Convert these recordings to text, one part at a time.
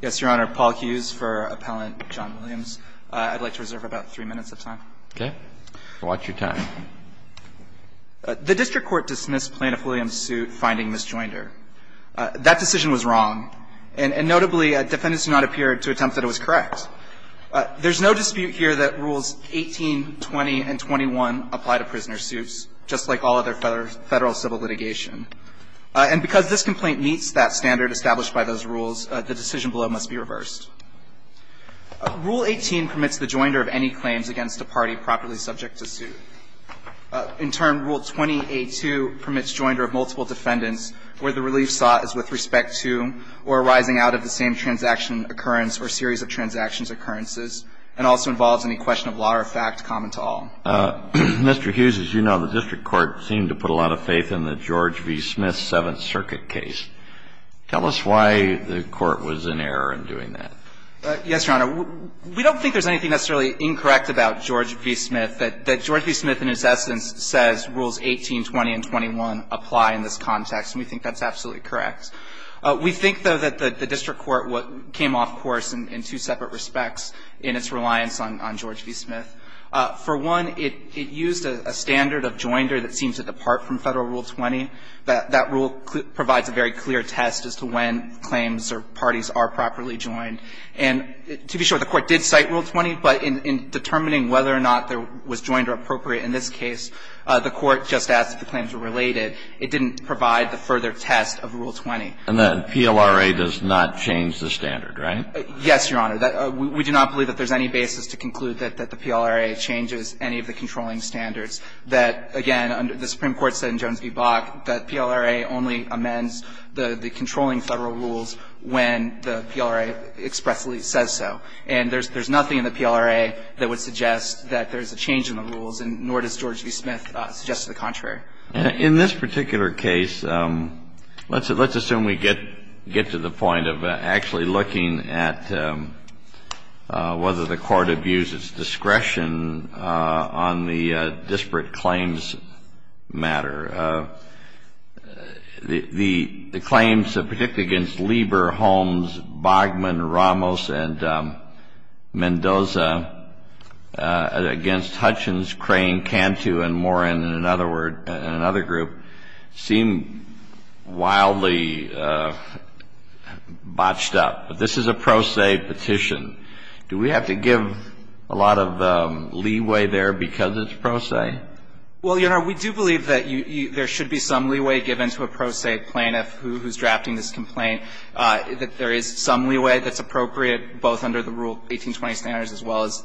Yes, Your Honor, Paul Hughes for Appellant John Williams. I'd like to reserve about three minutes of time. Okay. Watch your time. The district court dismissed plaintiff Williams' suit finding misjoinder. That decision was wrong, and notably defendants do not appear to attempt that it was correct. There's no dispute here that Rules 18, 20, and 21 apply to prisoner suits, just like all other federal civil litigation. And because this complaint meets that standard established by those rules, the decision below must be reversed. Rule 18 permits the joinder of any claims against a party properly subject to suit. In turn, Rule 20A2 permits joinder of multiple defendants where the relief sought is with respect to or arising out of the same transaction occurrence or series of transactions occurrences and also involves any question of law or fact common to all. Mr. Hughes, as you know, the district court seemed to put a lot of faith in the George v. Smith Seventh Circuit case. Tell us why the court was in error in doing that. Yes, Your Honor. We don't think there's anything necessarily incorrect about George v. Smith, that George v. Smith in its essence says Rules 18, 20, and 21 apply in this context, and we think that's absolutely correct. We think, though, that the district court came off course in two separate respects in its reliance on George v. Smith. For one, it used a standard of joinder that seemed to depart from Federal Rule 20. That rule provides a very clear test as to when claims or parties are properly joined. And to be sure, the court did cite Rule 20, but in determining whether or not there was joinder appropriate in this case, the court just asked if the claims were related. It didn't provide the further test of Rule 20. And then PLRA does not change the standard, right? Yes, Your Honor. We do not believe that there's any basis to conclude that the PLRA changes any of the controlling standards. That, again, the Supreme Court said in Jones v. Bach that PLRA only amends the controlling Federal Rules when the PLRA expressly says so. And there's nothing in the PLRA that would suggest that there's a change in the rules, and nor does George v. Smith suggest the contrary. In this particular case, let's assume we get to the point of actually looking at whether the court abuses discretion on the disparate claims matter. The claims that predict against Lieber, Holmes, Bogman, Ramos, and Mendoza against Hutchins, Crane, Cantu, and Moran, in another word, in another group, seem wildly botched up. But this is a pro se petition. Do we have to give a lot of leeway there because it's pro se? Well, Your Honor, we do believe that there should be some leeway given to a pro se plaintiff who's drafting this complaint, that there is some leeway that's appropriate both under the Rule 1820 standards as well as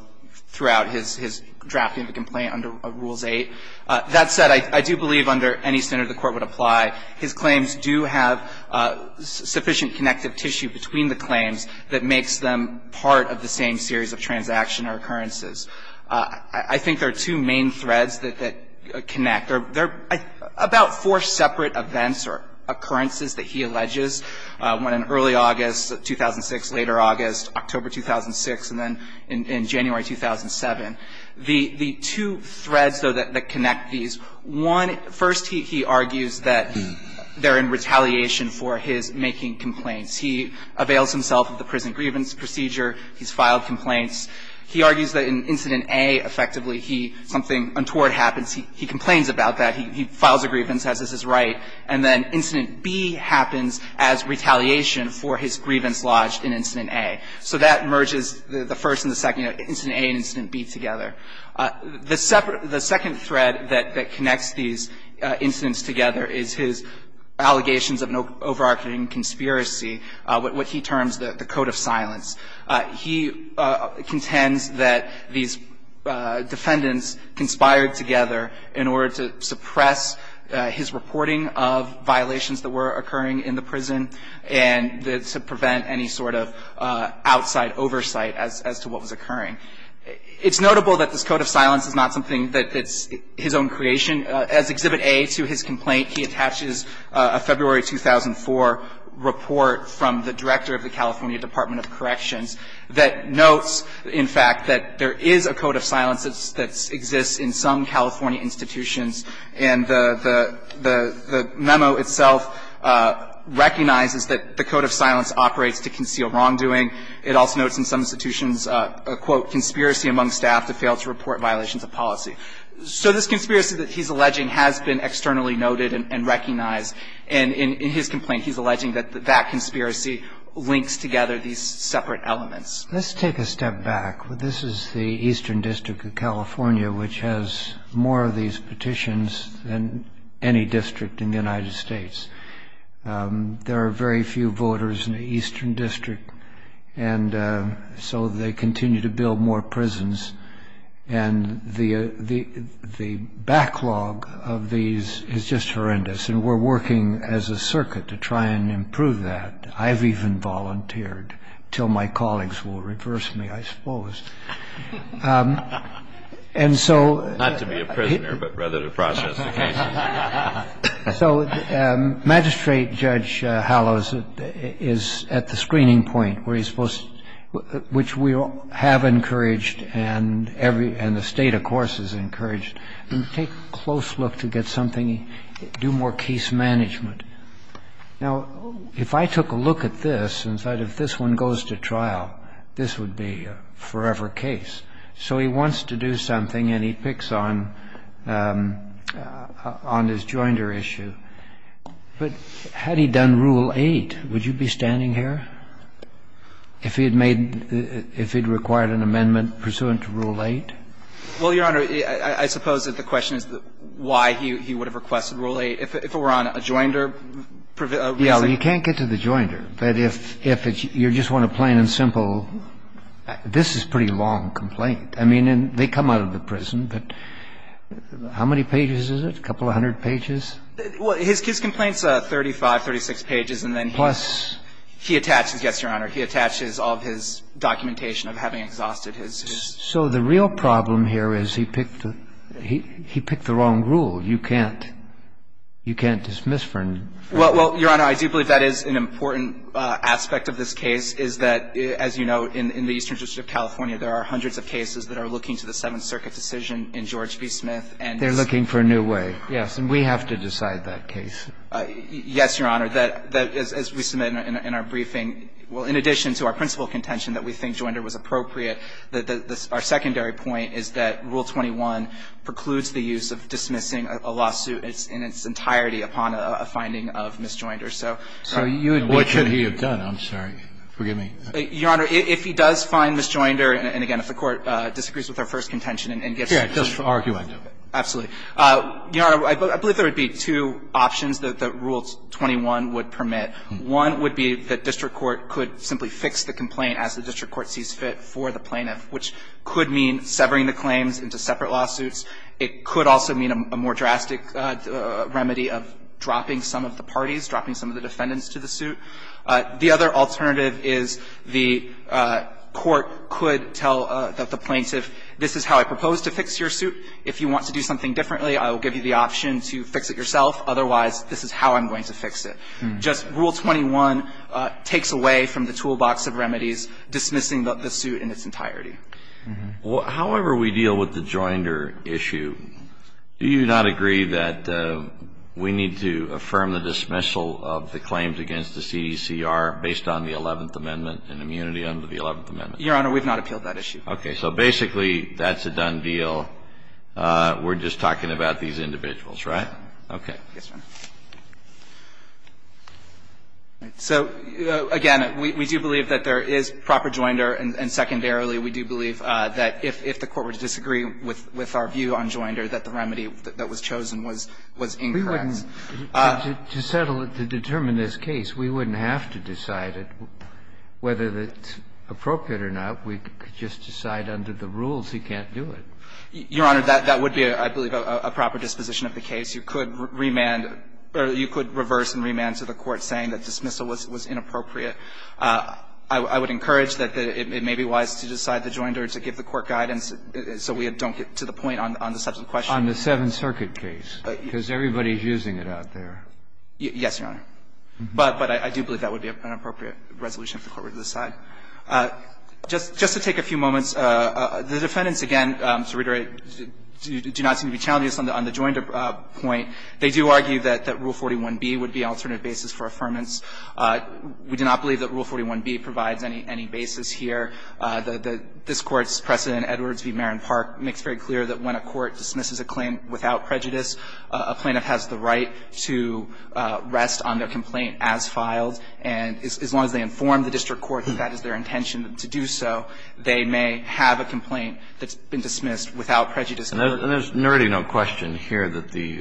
throughout his drafting the complaint under Rules 8. That said, I do believe under any standard the Court would apply. His claims do have sufficient connective tissue between the claims that makes them part of the same series of transaction or occurrences. I think there are two main threads that connect. There are about four separate events or occurrences that he alleges, one in early August 2006, later August, October 2006, and then in January 2007. The two threads, though, that connect these, one, first, he argues that they're in retaliation for his making complaints. He avails himself of the prison grievance procedure. He's filed complaints. He argues that in Incident A, effectively, something untoward happens. He complains about that. He files a grievance, says this is right. And then Incident B happens as retaliation for his grievance lodged in Incident A. So that merges the first and the second, Incident A and Incident B together. The second thread that connects these incidents together is his allegations of an overarching conspiracy, what he terms the code of silence. He contends that these defendants conspired together in order to suppress his reporting of violations that were occurring in the prison and to prevent any sort of outside oversight as to what was occurring. It's notable that this code of silence is not something that's his own creation. As Exhibit A to his complaint, he attaches a February 2004 report from the director of the California Department of Corrections that notes, in fact, that there is a code of silence that exists in some California institutions. And the memo itself recognizes that the code of silence operates to conceal wrongdoing. It also notes in some institutions a, quote, conspiracy among staff that failed to report violations of policy. So this conspiracy that he's alleging has been externally noted and recognized. And in his complaint, he's alleging that that conspiracy links together these separate elements. Let's take a step back. This is the Eastern District of California, which has more of these petitions than any district in the United States. There are very few voters in the Eastern District. And so they continue to build more prisons. And the backlog of these is just horrendous. And we're working as a circuit to try and improve that. I've even volunteered until my colleagues will reverse me, I suppose. And so he Not to be a prisoner, but rather to process the case. So Magistrate Judge Hallows is at the screening point, which we have encouraged and the State, of course, has encouraged. Take a close look to get something. Do more case management. Now, if I took a look at this and said if this one goes to trial, this would be a forever case. So he wants to do something, and he picks on his joinder issue. But had he done Rule 8, would you be standing here if he had made the – if he had required an amendment pursuant to Rule 8? Well, Your Honor, I suppose that the question is why he would have requested Rule 8. If it were on a joinder – Yeah, well, you can't get to the joinder. But if you just want a plain and simple, this is a pretty long complaint. I mean, they come out of the prison, but how many pages is it, a couple of hundred pages? Well, his complaint's 35, 36 pages, and then he – Plus? He attaches – yes, Your Honor. He attaches all of his documentation of having exhausted his – You can't dismiss for – Well, Your Honor, I do believe that is an important aspect of this case, is that, as you know, in the Eastern District of California, there are hundreds of cases that are looking to the Seventh Circuit decision in George v. Smith, and – They're looking for a new way. Yes. And we have to decide that case. Yes, Your Honor. That – as we submit in our briefing – well, in addition to our principal contention that we think joinder was appropriate, our secondary point is that Rule 21 precludes the use of dismissing a lawsuit in its entirety upon a finding of misjoinder. So you would be – What should he have done? I'm sorry. Forgive me. Your Honor, if he does find misjoinder, and again, if the Court disagrees with our first contention and gets – Here, just argue end of it. Absolutely. Your Honor, I believe there would be two options that Rule 21 would permit. One would be that district court could simply fix the complaint as the district court sees fit for the plaintiff, which could mean severing the claims into separate lawsuits. It could also mean a more drastic remedy of dropping some of the parties, dropping some of the defendants to the suit. The other alternative is the court could tell the plaintiff, this is how I propose to fix your suit. If you want to do something differently, I will give you the option to fix it yourself. Otherwise, this is how I'm going to fix it. Just Rule 21 takes away from the toolbox of remedies dismissing the suit in its entirety. However we deal with the joinder issue, do you not agree that we need to affirm the dismissal of the claims against the CDCR based on the Eleventh Amendment and immunity under the Eleventh Amendment? Your Honor, we have not appealed that issue. Okay. So basically, that's a done deal. We're just talking about these individuals, right? Okay. Yes, Your Honor. So, again, we do believe that there is proper joinder, and secondarily, we do believe that if the Court were to disagree with our view on joinder, that the remedy that was chosen was incorrect. To settle it, to determine this case, we wouldn't have to decide it. Whether it's appropriate or not, we could just decide under the rules he can't do it. Your Honor, that would be, I believe, a proper disposition of the case. You could remand or you could reverse and remand to the court saying that dismissal was inappropriate. I would encourage that it may be wise to decide the joinder to give the court guidance so we don't get to the point on the substantive question. On the Seventh Circuit case, because everybody is using it out there. Yes, Your Honor. But I do believe that would be an appropriate resolution if the Court were to decide. Just to take a few moments, the defendants, again, to reiterate, do not seem to be challenging us on the joinder point. They do argue that Rule 41b would be an alternative basis for affirmance. We do not believe that Rule 41b provides any basis here. This Court's precedent, Edwards v. Marron Park, makes very clear that when a court dismisses a claim without prejudice, a plaintiff has the right to rest on their complaint as filed, and as long as they inform the district court that that is their intention to do so, they may have a complaint that's been dismissed without prejudice. And there's nearly no question here that the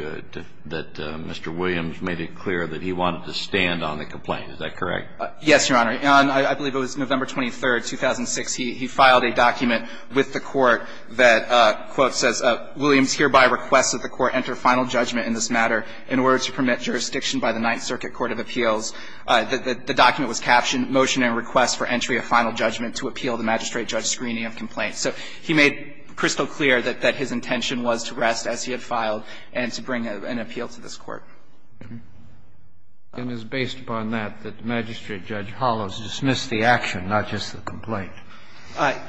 Mr. Williams made it clear that he wanted to stand on the complaint. Is that correct? Yes, Your Honor. On, I believe it was November 23, 2006, he filed a document with the Court that, quote, says, Williams hereby requests that the Court enter final judgment in this matter in order to permit jurisdiction by the Ninth Circuit Court of Appeals. The document was captioned, Motion in Request for Entry of Final Judgment to Appeal the Magistrate-Judge Screening of Complaints. So he made crystal clear that his intention was to rest as he had filed and to bring an appeal to this Court. And it's based upon that, that the magistrate, Judge Hollows, dismissed the action, not just the complaint.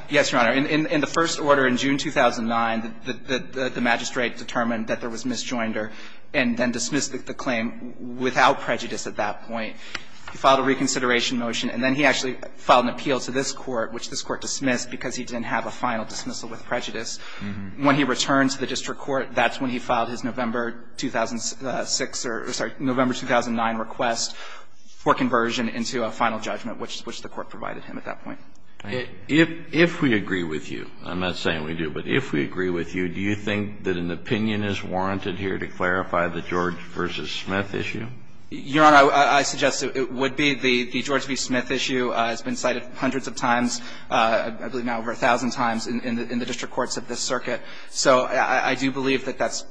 Yes, Your Honor. In the first order, in June 2009, the magistrate determined that there was misjoinder and then dismissed the claim without prejudice at that point. He filed a reconsideration motion, and then he actually filed an appeal to this Court, which this Court dismissed because he didn't have a final dismissal with prejudice. When he returned to the district court, that's when he filed his November 2006 or, sorry, November 2009 request for conversion into a final judgment, which the Court provided him at that point. If we agree with you, I'm not saying we do, but if we agree with you, do you think that an opinion is warranted here to clarify the George v. Smith issue? Your Honor, I suggest it would be. The George v. Smith issue has been cited hundreds of times, I believe now over a thousand times, in the district courts of this circuit. So I do believe that that's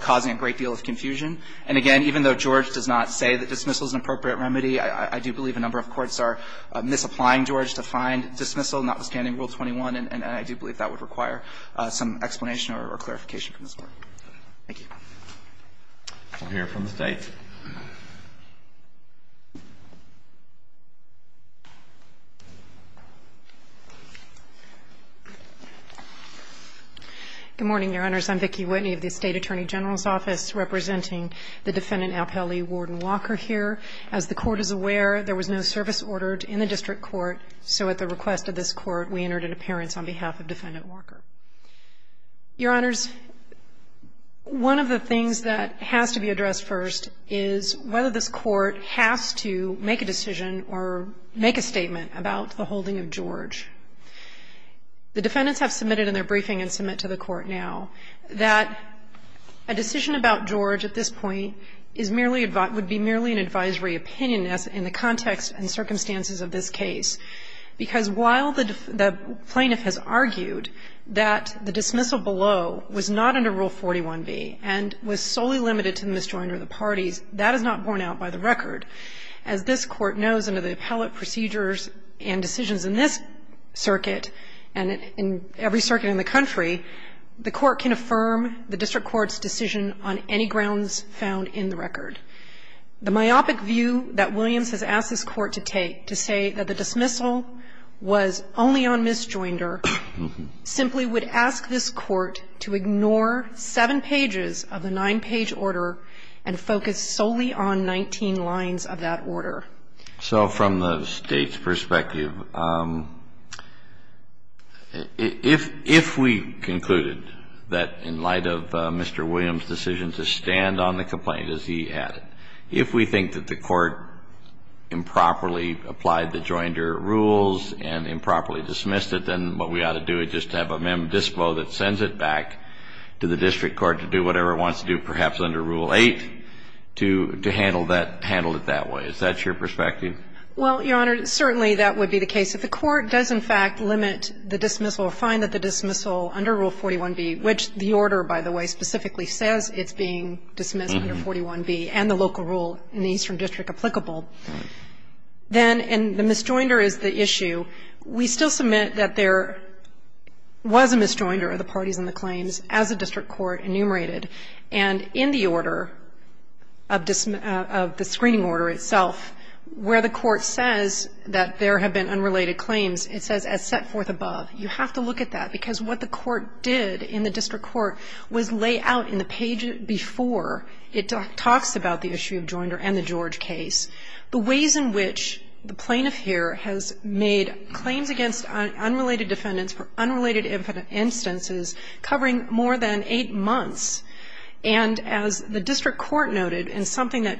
causing a great deal of confusion. And again, even though George does not say that dismissal is an appropriate remedy, I do believe a number of courts are misapplying George to find dismissal, notwithstanding Rule 21, and I do believe that would require some explanation or clarification from this Court. Thank you. We'll hear from the State. Good morning, Your Honors. I'm Vicki Whitney of the State Attorney General's Office, representing the defendant Alpelli, Warden Walker, here. As the Court is aware, there was no service ordered in the district court, so at the request of this Court, we entered an appearance on behalf of defendant Walker. Your Honors, one of the things that has to be addressed first is the fact that the court has to make a decision or make a statement about the holding of George. The defendants have submitted in their briefing and submit to the Court now that a decision about George at this point is merely an advisory opinion in the context and circumstances of this case, because while the plaintiff has argued that the dismissal below was not under Rule 41b and was solely limited to the misjoinder of the parties, that is not borne out by the record. As this Court knows, under the appellate procedures and decisions in this circuit and in every circuit in the country, the court can affirm the district court's decision on any grounds found in the record. The myopic view that Williams has asked this Court to take to say that the dismissal was only on misjoinder simply would ask this Court to ignore seven pages of the nine-page order and focus solely on 19 lines of that order. So from the State's perspective, if we concluded that in light of Mr. Williams's decision to stand on the complaint, as he added, if we think that the court improperly applied the joinder rules and improperly dismissed it, then what we ought to do is just have a mem dispo that sends it back to the district court to do whatever it wants to do, perhaps under Rule 8, to handle it that way. Is that your perspective? Well, Your Honor, certainly that would be the case. If the Court does in fact limit the dismissal or find that the dismissal under Rule 41b, which the order, by the way, specifically says it's being dismissed under 41b and the local rule in the Eastern District applicable, then the misjoinder is the issue. We still submit that there was a misjoinder of the parties in the claims as the district court enumerated. And in the order of the screening order itself, where the court says that there have been unrelated claims, it says, as set forth above. You have to look at that, because what the court did in the district court was lay out in the page before it talks about the issue of joinder and the George case. The ways in which the plaintiff here has made claims against unrelated defendants for unrelated instances covering more than eight months, and as the district court noted, and something that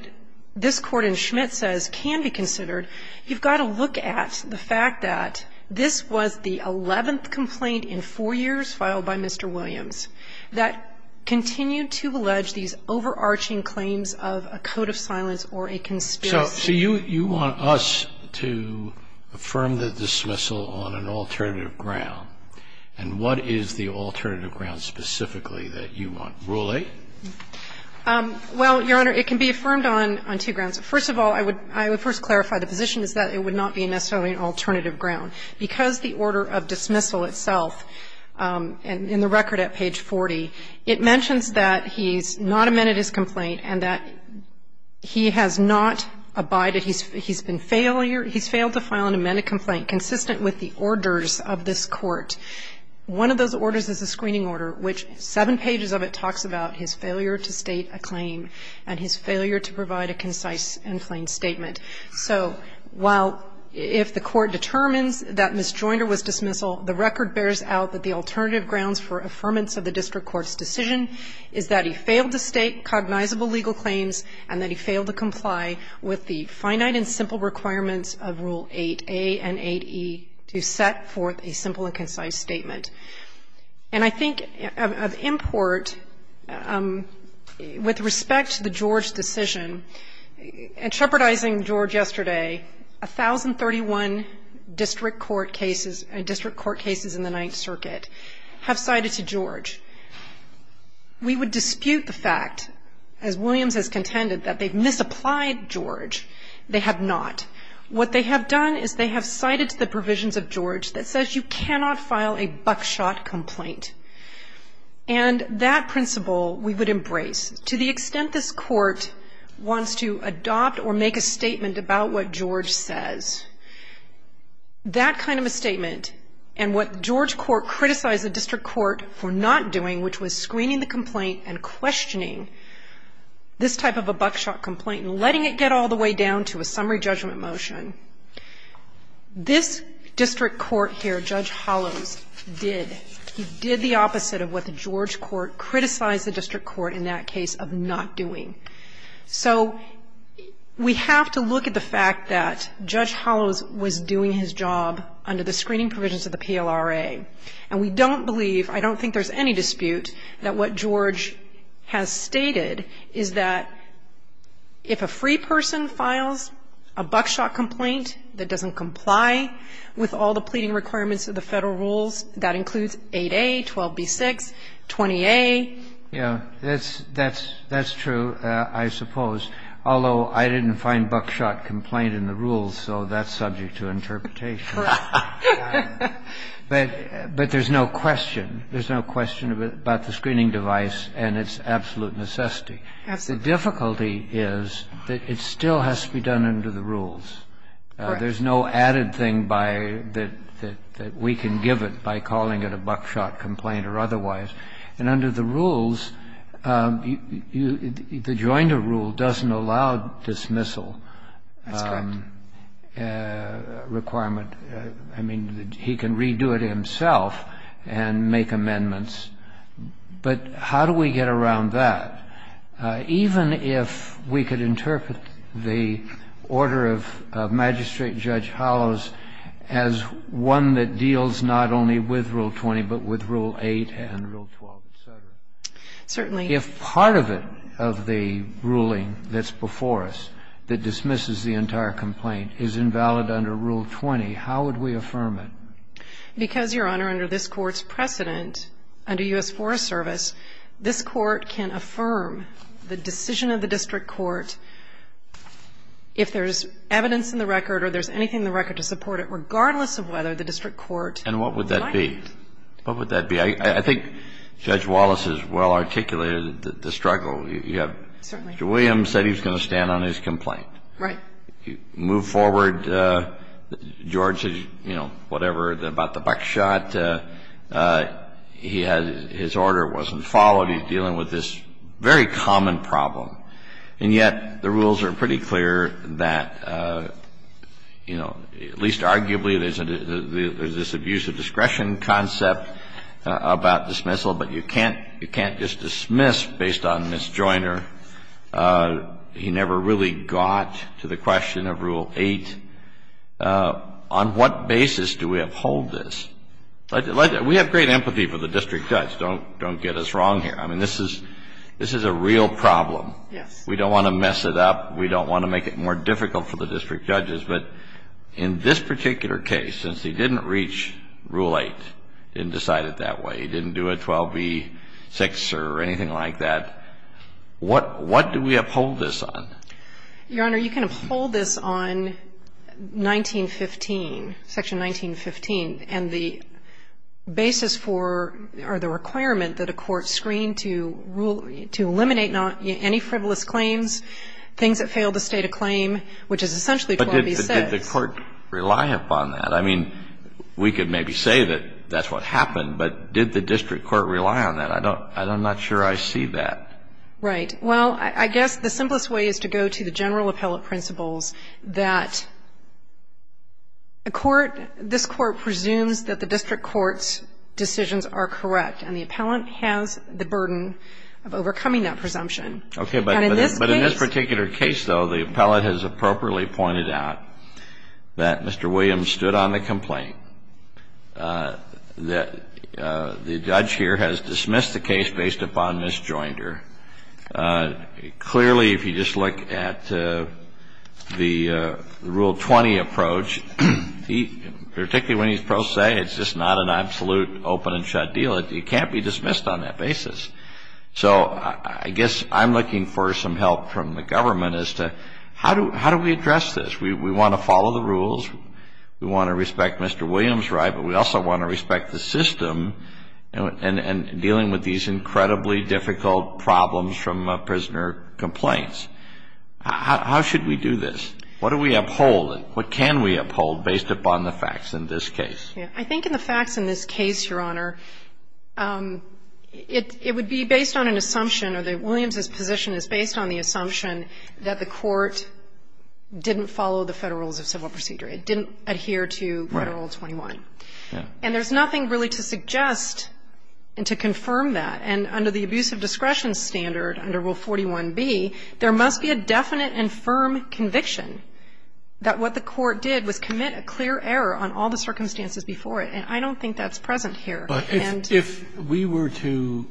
this Court in Schmidt says can be considered, you've got to look at the fact that this was the 11th complaint in four years filed by Mr. Williams that continued to allege these overarching claims of a code of silence or a conspiracy. So you want us to affirm the dismissal on an alternative ground, and what is the alternative ground specifically that you want? Rule 8? Well, Your Honor, it can be affirmed on two grounds. First of all, I would first clarify the position is that it would not be necessarily an alternative ground. Because the order of dismissal itself, in the record at page 40, it mentions that he's not amended his complaint and that he has not abided, he's been failure he's failed to file an amended complaint consistent with the orders of this court. One of those orders is a screening order, which seven pages of it talks about his failure to state a claim and his failure to provide a concise and plain statement. So while if the court determines that Ms. Joinder was dismissal, the record bears out that the alternative grounds for affirmance of the district court's decision is that he failed to state cognizable legal claims and that he failed to comply with the finite and simple requirements of Rule 8a and 8e to set forth a simple and concise statement. And I think of import, with respect to the George decision, in trepidating George yesterday, 1,031 district court cases in the Ninth Circuit have cited to George. We would dispute the fact, as Williams has contended, that they've misapplied George, they have not. What they have done is they have cited to the provisions of George that says you cannot file a buckshot complaint. And that principle we would embrace. To the extent this court wants to adopt or make a statement about what George says, that kind of a statement and what George court criticized the district court for not doing, which was screening the complaint and questioning this type of a buckshot complaint and letting it get all the way down to a summary judgment motion, this district court here, Judge Hollows, did. He did the opposite of what the George court criticized the district court in that case of not doing. So we have to look at the fact that Judge Hollows was doing his job under the screening provisions of the PLRA, and we don't believe, I don't think there's any dispute, that what George has stated is that if a free person files a buckshot complaint that doesn't comply with all the pleading requirements of the federal rules, that includes 8A, 12B6, 20A. Yeah. That's true, I suppose. Although I didn't find buckshot complaint in the rules, so that's subject to interpretation. Correct. But there's no question. There's no question about the screening device and its absolute necessity. Absolutely. The difficulty is that it still has to be done under the rules. Correct. There's no added thing that we can give it by calling it a buckshot complaint or otherwise. And under the rules, the joinder rule doesn't allow dismissal requirement. That's correct. I mean, he can redo it himself and make amendments. But how do we get around that? Even if we could interpret the order of Magistrate Judge Hollows as one that deals not only with Rule 20 but with Rule 8 and Rule 12, et cetera. Certainly. If part of it, of the ruling that's before us that dismisses the entire complaint is invalid under Rule 20, how would we affirm it? Because, Your Honor, under this Court's precedent, under U.S. Forest Service, this Court can affirm the decision of the district court if there's evidence in the record or there's anything in the record to support it, regardless of whether the district court would like it. And what would that be? What would that be? I think Judge Wallace has well articulated the struggle. Certainly. Mr. Williams said he was going to stand on his complaint. Right. Move forward George's, you know, whatever about the buckshot. But his order wasn't followed. He's dealing with this very common problem. And yet the rules are pretty clear that, you know, at least arguably there's this abuse of discretion concept about dismissal, but you can't just dismiss based on Miss Joyner. He never really got to the question of Rule 8. On what basis do we uphold this? We have great empathy for the district judge. Don't get us wrong here. I mean, this is a real problem. Yes. We don't want to mess it up. We don't want to make it more difficult for the district judges. But in this particular case, since he didn't reach Rule 8, he didn't decide it that way, he didn't do a 12b-6 or anything like that, what do we uphold this on? Your Honor, you can uphold this on 1915, Section 1915, and the basis for or the requirement that a court screen to rule, to eliminate any frivolous claims, things that fail to state a claim, which is essentially 12b-6. But did the court rely upon that? I mean, we could maybe say that that's what happened, but did the district court rely on that? I'm not sure I see that. Right. Well, I guess the simplest way is to go to the general appellate principles that a court, this court presumes that the district court's decisions are correct, and the appellant has the burden of overcoming that presumption. Okay. But in this particular case, though, the appellate has appropriately pointed out that Mr. Williams stood on the complaint, that the judge here has clearly, if you just look at the Rule 20 approach, particularly when he's pro se, it's just not an absolute open and shut deal. It can't be dismissed on that basis. So I guess I'm looking for some help from the government as to how do we address this? We want to follow the rules. We want to respect Mr. Williams' right, but we also want to respect the prisoner complaints. How should we do this? What do we uphold? What can we uphold based upon the facts in this case? Yeah. I think in the facts in this case, Your Honor, it would be based on an assumption, or that Williams' position is based on the assumption that the court didn't follow the Federal Rules of Civil Procedure. It didn't adhere to Federal Rule 21. Right. Yeah. And there's nothing really to suggest and to confirm that. And under the abuse of discretion standard under Rule 41B, there must be a definite and firm conviction that what the court did was commit a clear error on all the circumstances before it. And I don't think that's present here. But if we were to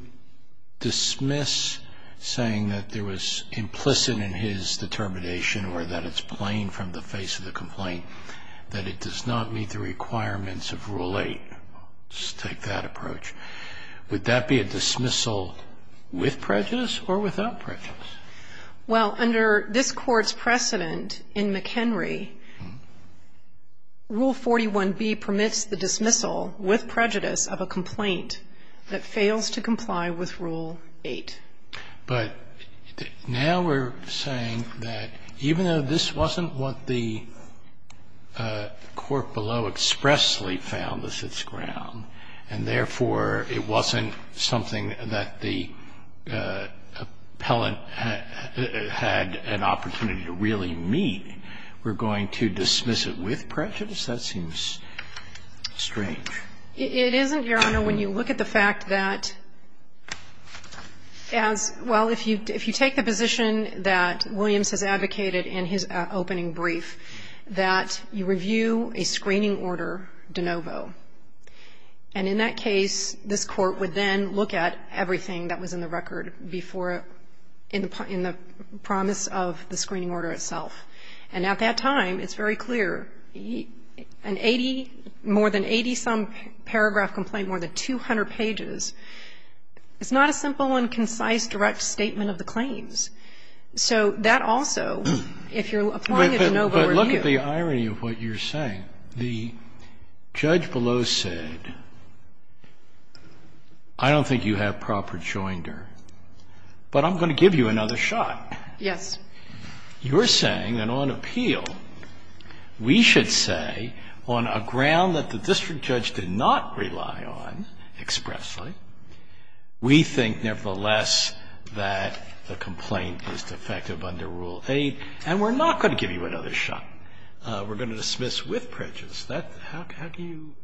dismiss saying that there was implicit in his determination or that it's plain from the face of the complaint that it does not meet the requirements of Rule 8, let's take that approach, would that be a dismissal with prejudice or without prejudice? Well, under this Court's precedent in McHenry, Rule 41B permits the dismissal with prejudice of a complaint that fails to comply with Rule 8. But now we're saying that even though this wasn't what the court below expressly found that sits ground, and therefore it wasn't something that the appellant had an opportunity to really meet, we're going to dismiss it with prejudice? That seems strange. It isn't, Your Honor, when you look at the fact that as well, if you take the position that Williams has advocated in his opening brief that you review a screening order de novo, and in that case, this Court would then look at everything that was in the record before, in the promise of the screening order itself. And at that time, it's very clear, an 80, more than 80-some paragraph complaint, more than 200 pages, it's not a simple and concise direct statement of the claims. So that also, if you're applying a de novo review. I think the irony of what you're saying, the judge below said, I don't think you have proper joinder, but I'm going to give you another shot. Yes. You're saying that on appeal, we should say on a ground that the district judge did not rely on expressly, we think nevertheless that the complaint is defective under Rule 8, and we're not going to give you another shot. We're going to dismiss with prejudice. How do you,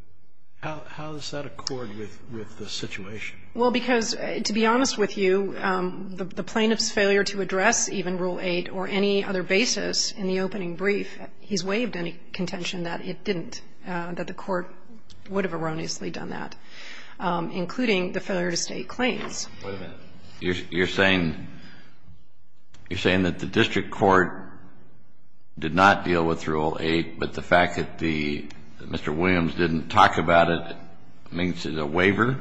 how does that accord with the situation? Well, because to be honest with you, the plaintiff's failure to address even Rule 8 or any other basis in the opening brief, he's waived any contention that it didn't, that the Court would have erroneously done that, including the failure to state claims. Wait a minute. You're saying that the district court did not deal with Rule 8, but the fact that Mr. Williams didn't talk about it makes it a waiver?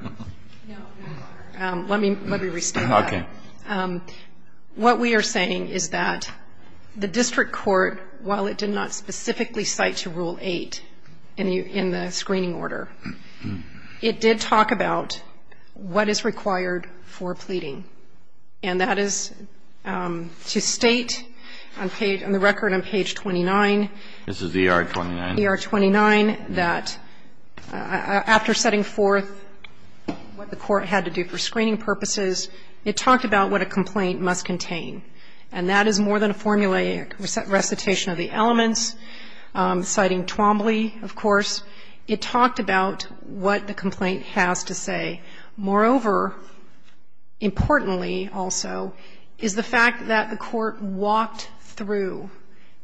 No. Let me restate that. Okay. What we are saying is that the district court, while it did not specifically cite to Rule 8 in the screening order, it did talk about what is required for pleading. And that is to state on the record on page 29. This is ER 29. ER 29, that after setting forth what the Court had to do for screening purposes, it talked about what a complaint must contain. And that is more than a formulaic recitation of the elements, citing Twombly, of course. It talked about what the complaint has to say. Moreover, importantly also, is the fact that the Court walked through,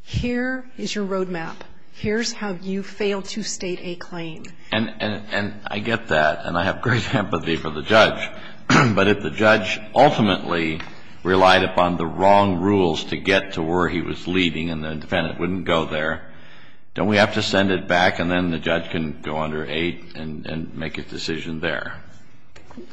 here is your road map. Here's how you fail to state a claim. And I get that. And I have great empathy for the judge. But if the judge ultimately relied upon the wrong rules to get to where he was leaving and the defendant wouldn't go there, don't we have to send it back and then the judge can go under 8 and make a decision there?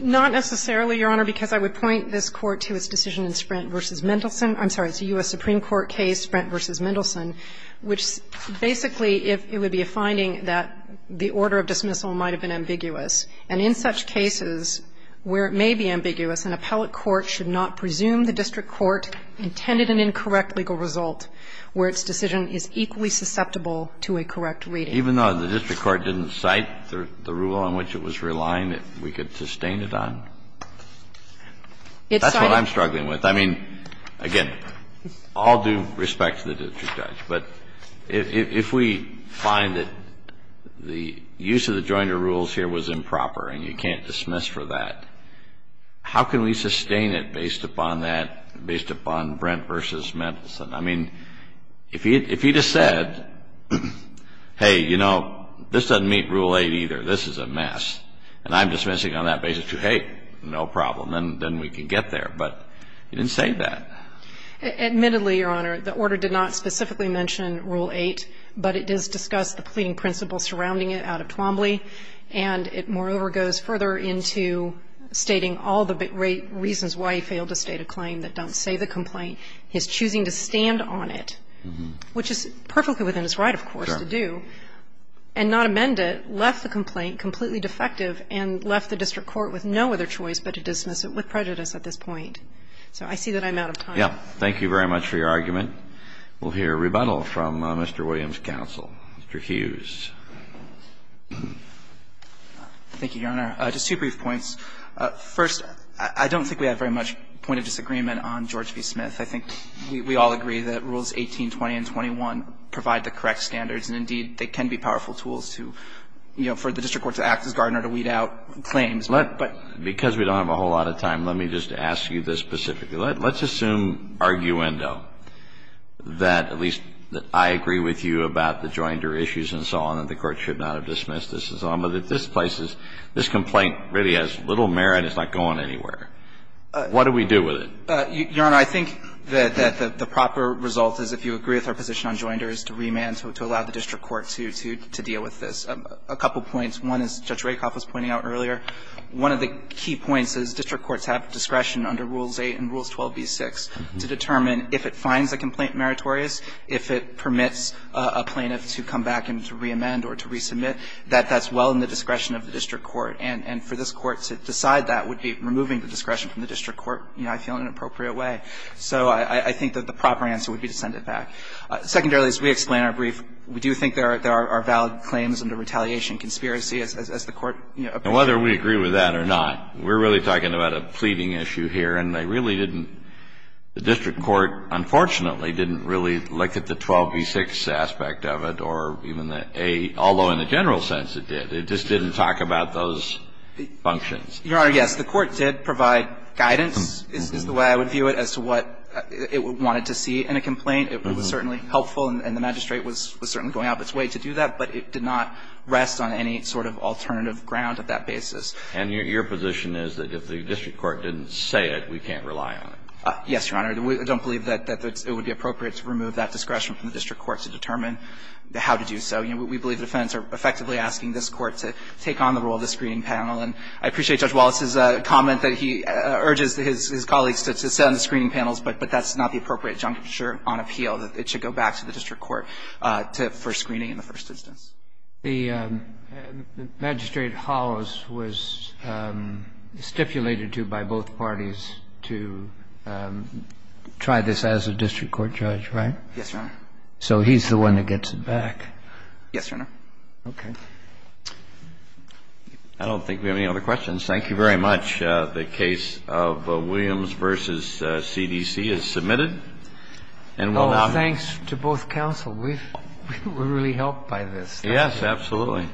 Not necessarily, Your Honor, because I would point this Court to its decision in Sprint v. Mendelsohn. I'm sorry, it's a U.S. Supreme Court case, Sprint v. Mendelsohn, which basically if it would be a finding that the order of dismissal might have been ambiguous. And in such cases where it may be ambiguous, an appellate court should not presume the district court intended an incorrect legal result where its decision is equally susceptible to a correct reading. Even though the district court didn't cite the rule on which it was relying, we could sustain it on. That's what I'm struggling with. I mean, again, all due respect to the district judge. But if we find that the use of the Joyner rules here was improper and you can't dismiss for that, how can we sustain it based upon that, based upon Brent v. Mendelsohn? I mean, if he just said, hey, you know, this doesn't meet Rule 8 either. This is a mess. And I'm dismissing on that basis, too. Hey, no problem. Then we can get there. But he didn't say that. Admittedly, Your Honor, the order did not specifically mention Rule 8, but it does discuss the pleading principles surrounding it out of Twombly. And it moreover goes further into stating all the reasons why he failed to state a claim that don't say the complaint. He's choosing to stand on it, which is perfectly within his right, of course, to do, and not amend it, left the complaint completely defective, and left the district court with no other choice but to dismiss it with prejudice at this point. So I see that I'm out of time. Yeah. Thank you very much for your argument. We'll hear rebuttal from Mr. Williams' counsel. Mr. Hughes. Thank you, Your Honor. Just two brief points. First, I don't think we have very much point of disagreement on George v. Smith. I think we all agree that Rules 18, 20, and 21 provide the correct standards, and indeed, they can be powerful tools to, you know, for the district court to act as gardener, to weed out claims. But because we don't have a whole lot of time, let me just ask you this specifically. Let's assume, arguendo, that at least I agree with you about the joinder issues and so on, that the Court should not have dismissed this and so on. But if this place is, this complaint really has little merit, it's not going anywhere, what do we do with it? Your Honor, I think that the proper result is, if you agree with our position on joinder, is to remand, to allow the district court to deal with this. A couple points. One is, Judge Rakoff was pointing out earlier, one of the key points is district courts have discretion under Rules 8 and Rules 12b-6 to determine if it finds a complaint meritorious, if it permits a plaintiff to come back and to reamend or to resubmit, that that's well in the discretion of the district court. You know, I feel in an appropriate way. So I think that the proper answer would be to send it back. Secondarily, as we explain in our brief, we do think there are valid claims under retaliation conspiracy, as the Court, you know, appears to have. And whether we agree with that or not, we're really talking about a pleading issue here, and they really didn't, the district court, unfortunately, didn't really look at the 12b-6 aspect of it or even the 8, although in the general sense it did. It just didn't talk about those functions. Your Honor, yes, the Court did provide guidance, is the way I would view it, as to what it wanted to see in a complaint. It was certainly helpful and the magistrate was certainly going out of its way to do that, but it did not rest on any sort of alternative ground at that basis. And your position is that if the district court didn't say it, we can't rely on it? Yes, Your Honor. We don't believe that it would be appropriate to remove that discretion from the district court to determine how to do so. You know, we believe the defendants are effectively asking this Court to take on the role of the screening panel. And I appreciate Judge Wallace's comment that he urges his colleagues to sit on the screening panels, but that's not the appropriate juncture on appeal, that it should go back to the district court for screening in the first instance. The magistrate Hollis was stipulated to by both parties to try this as a district court judge, right? Yes, Your Honor. So he's the one that gets it back. Yes, Your Honor. Okay. I don't think we have any other questions. Thank you very much. The case of Williams v. CDC is submitted. Oh, thanks to both counsel. We were really helped by this. Yes, absolutely.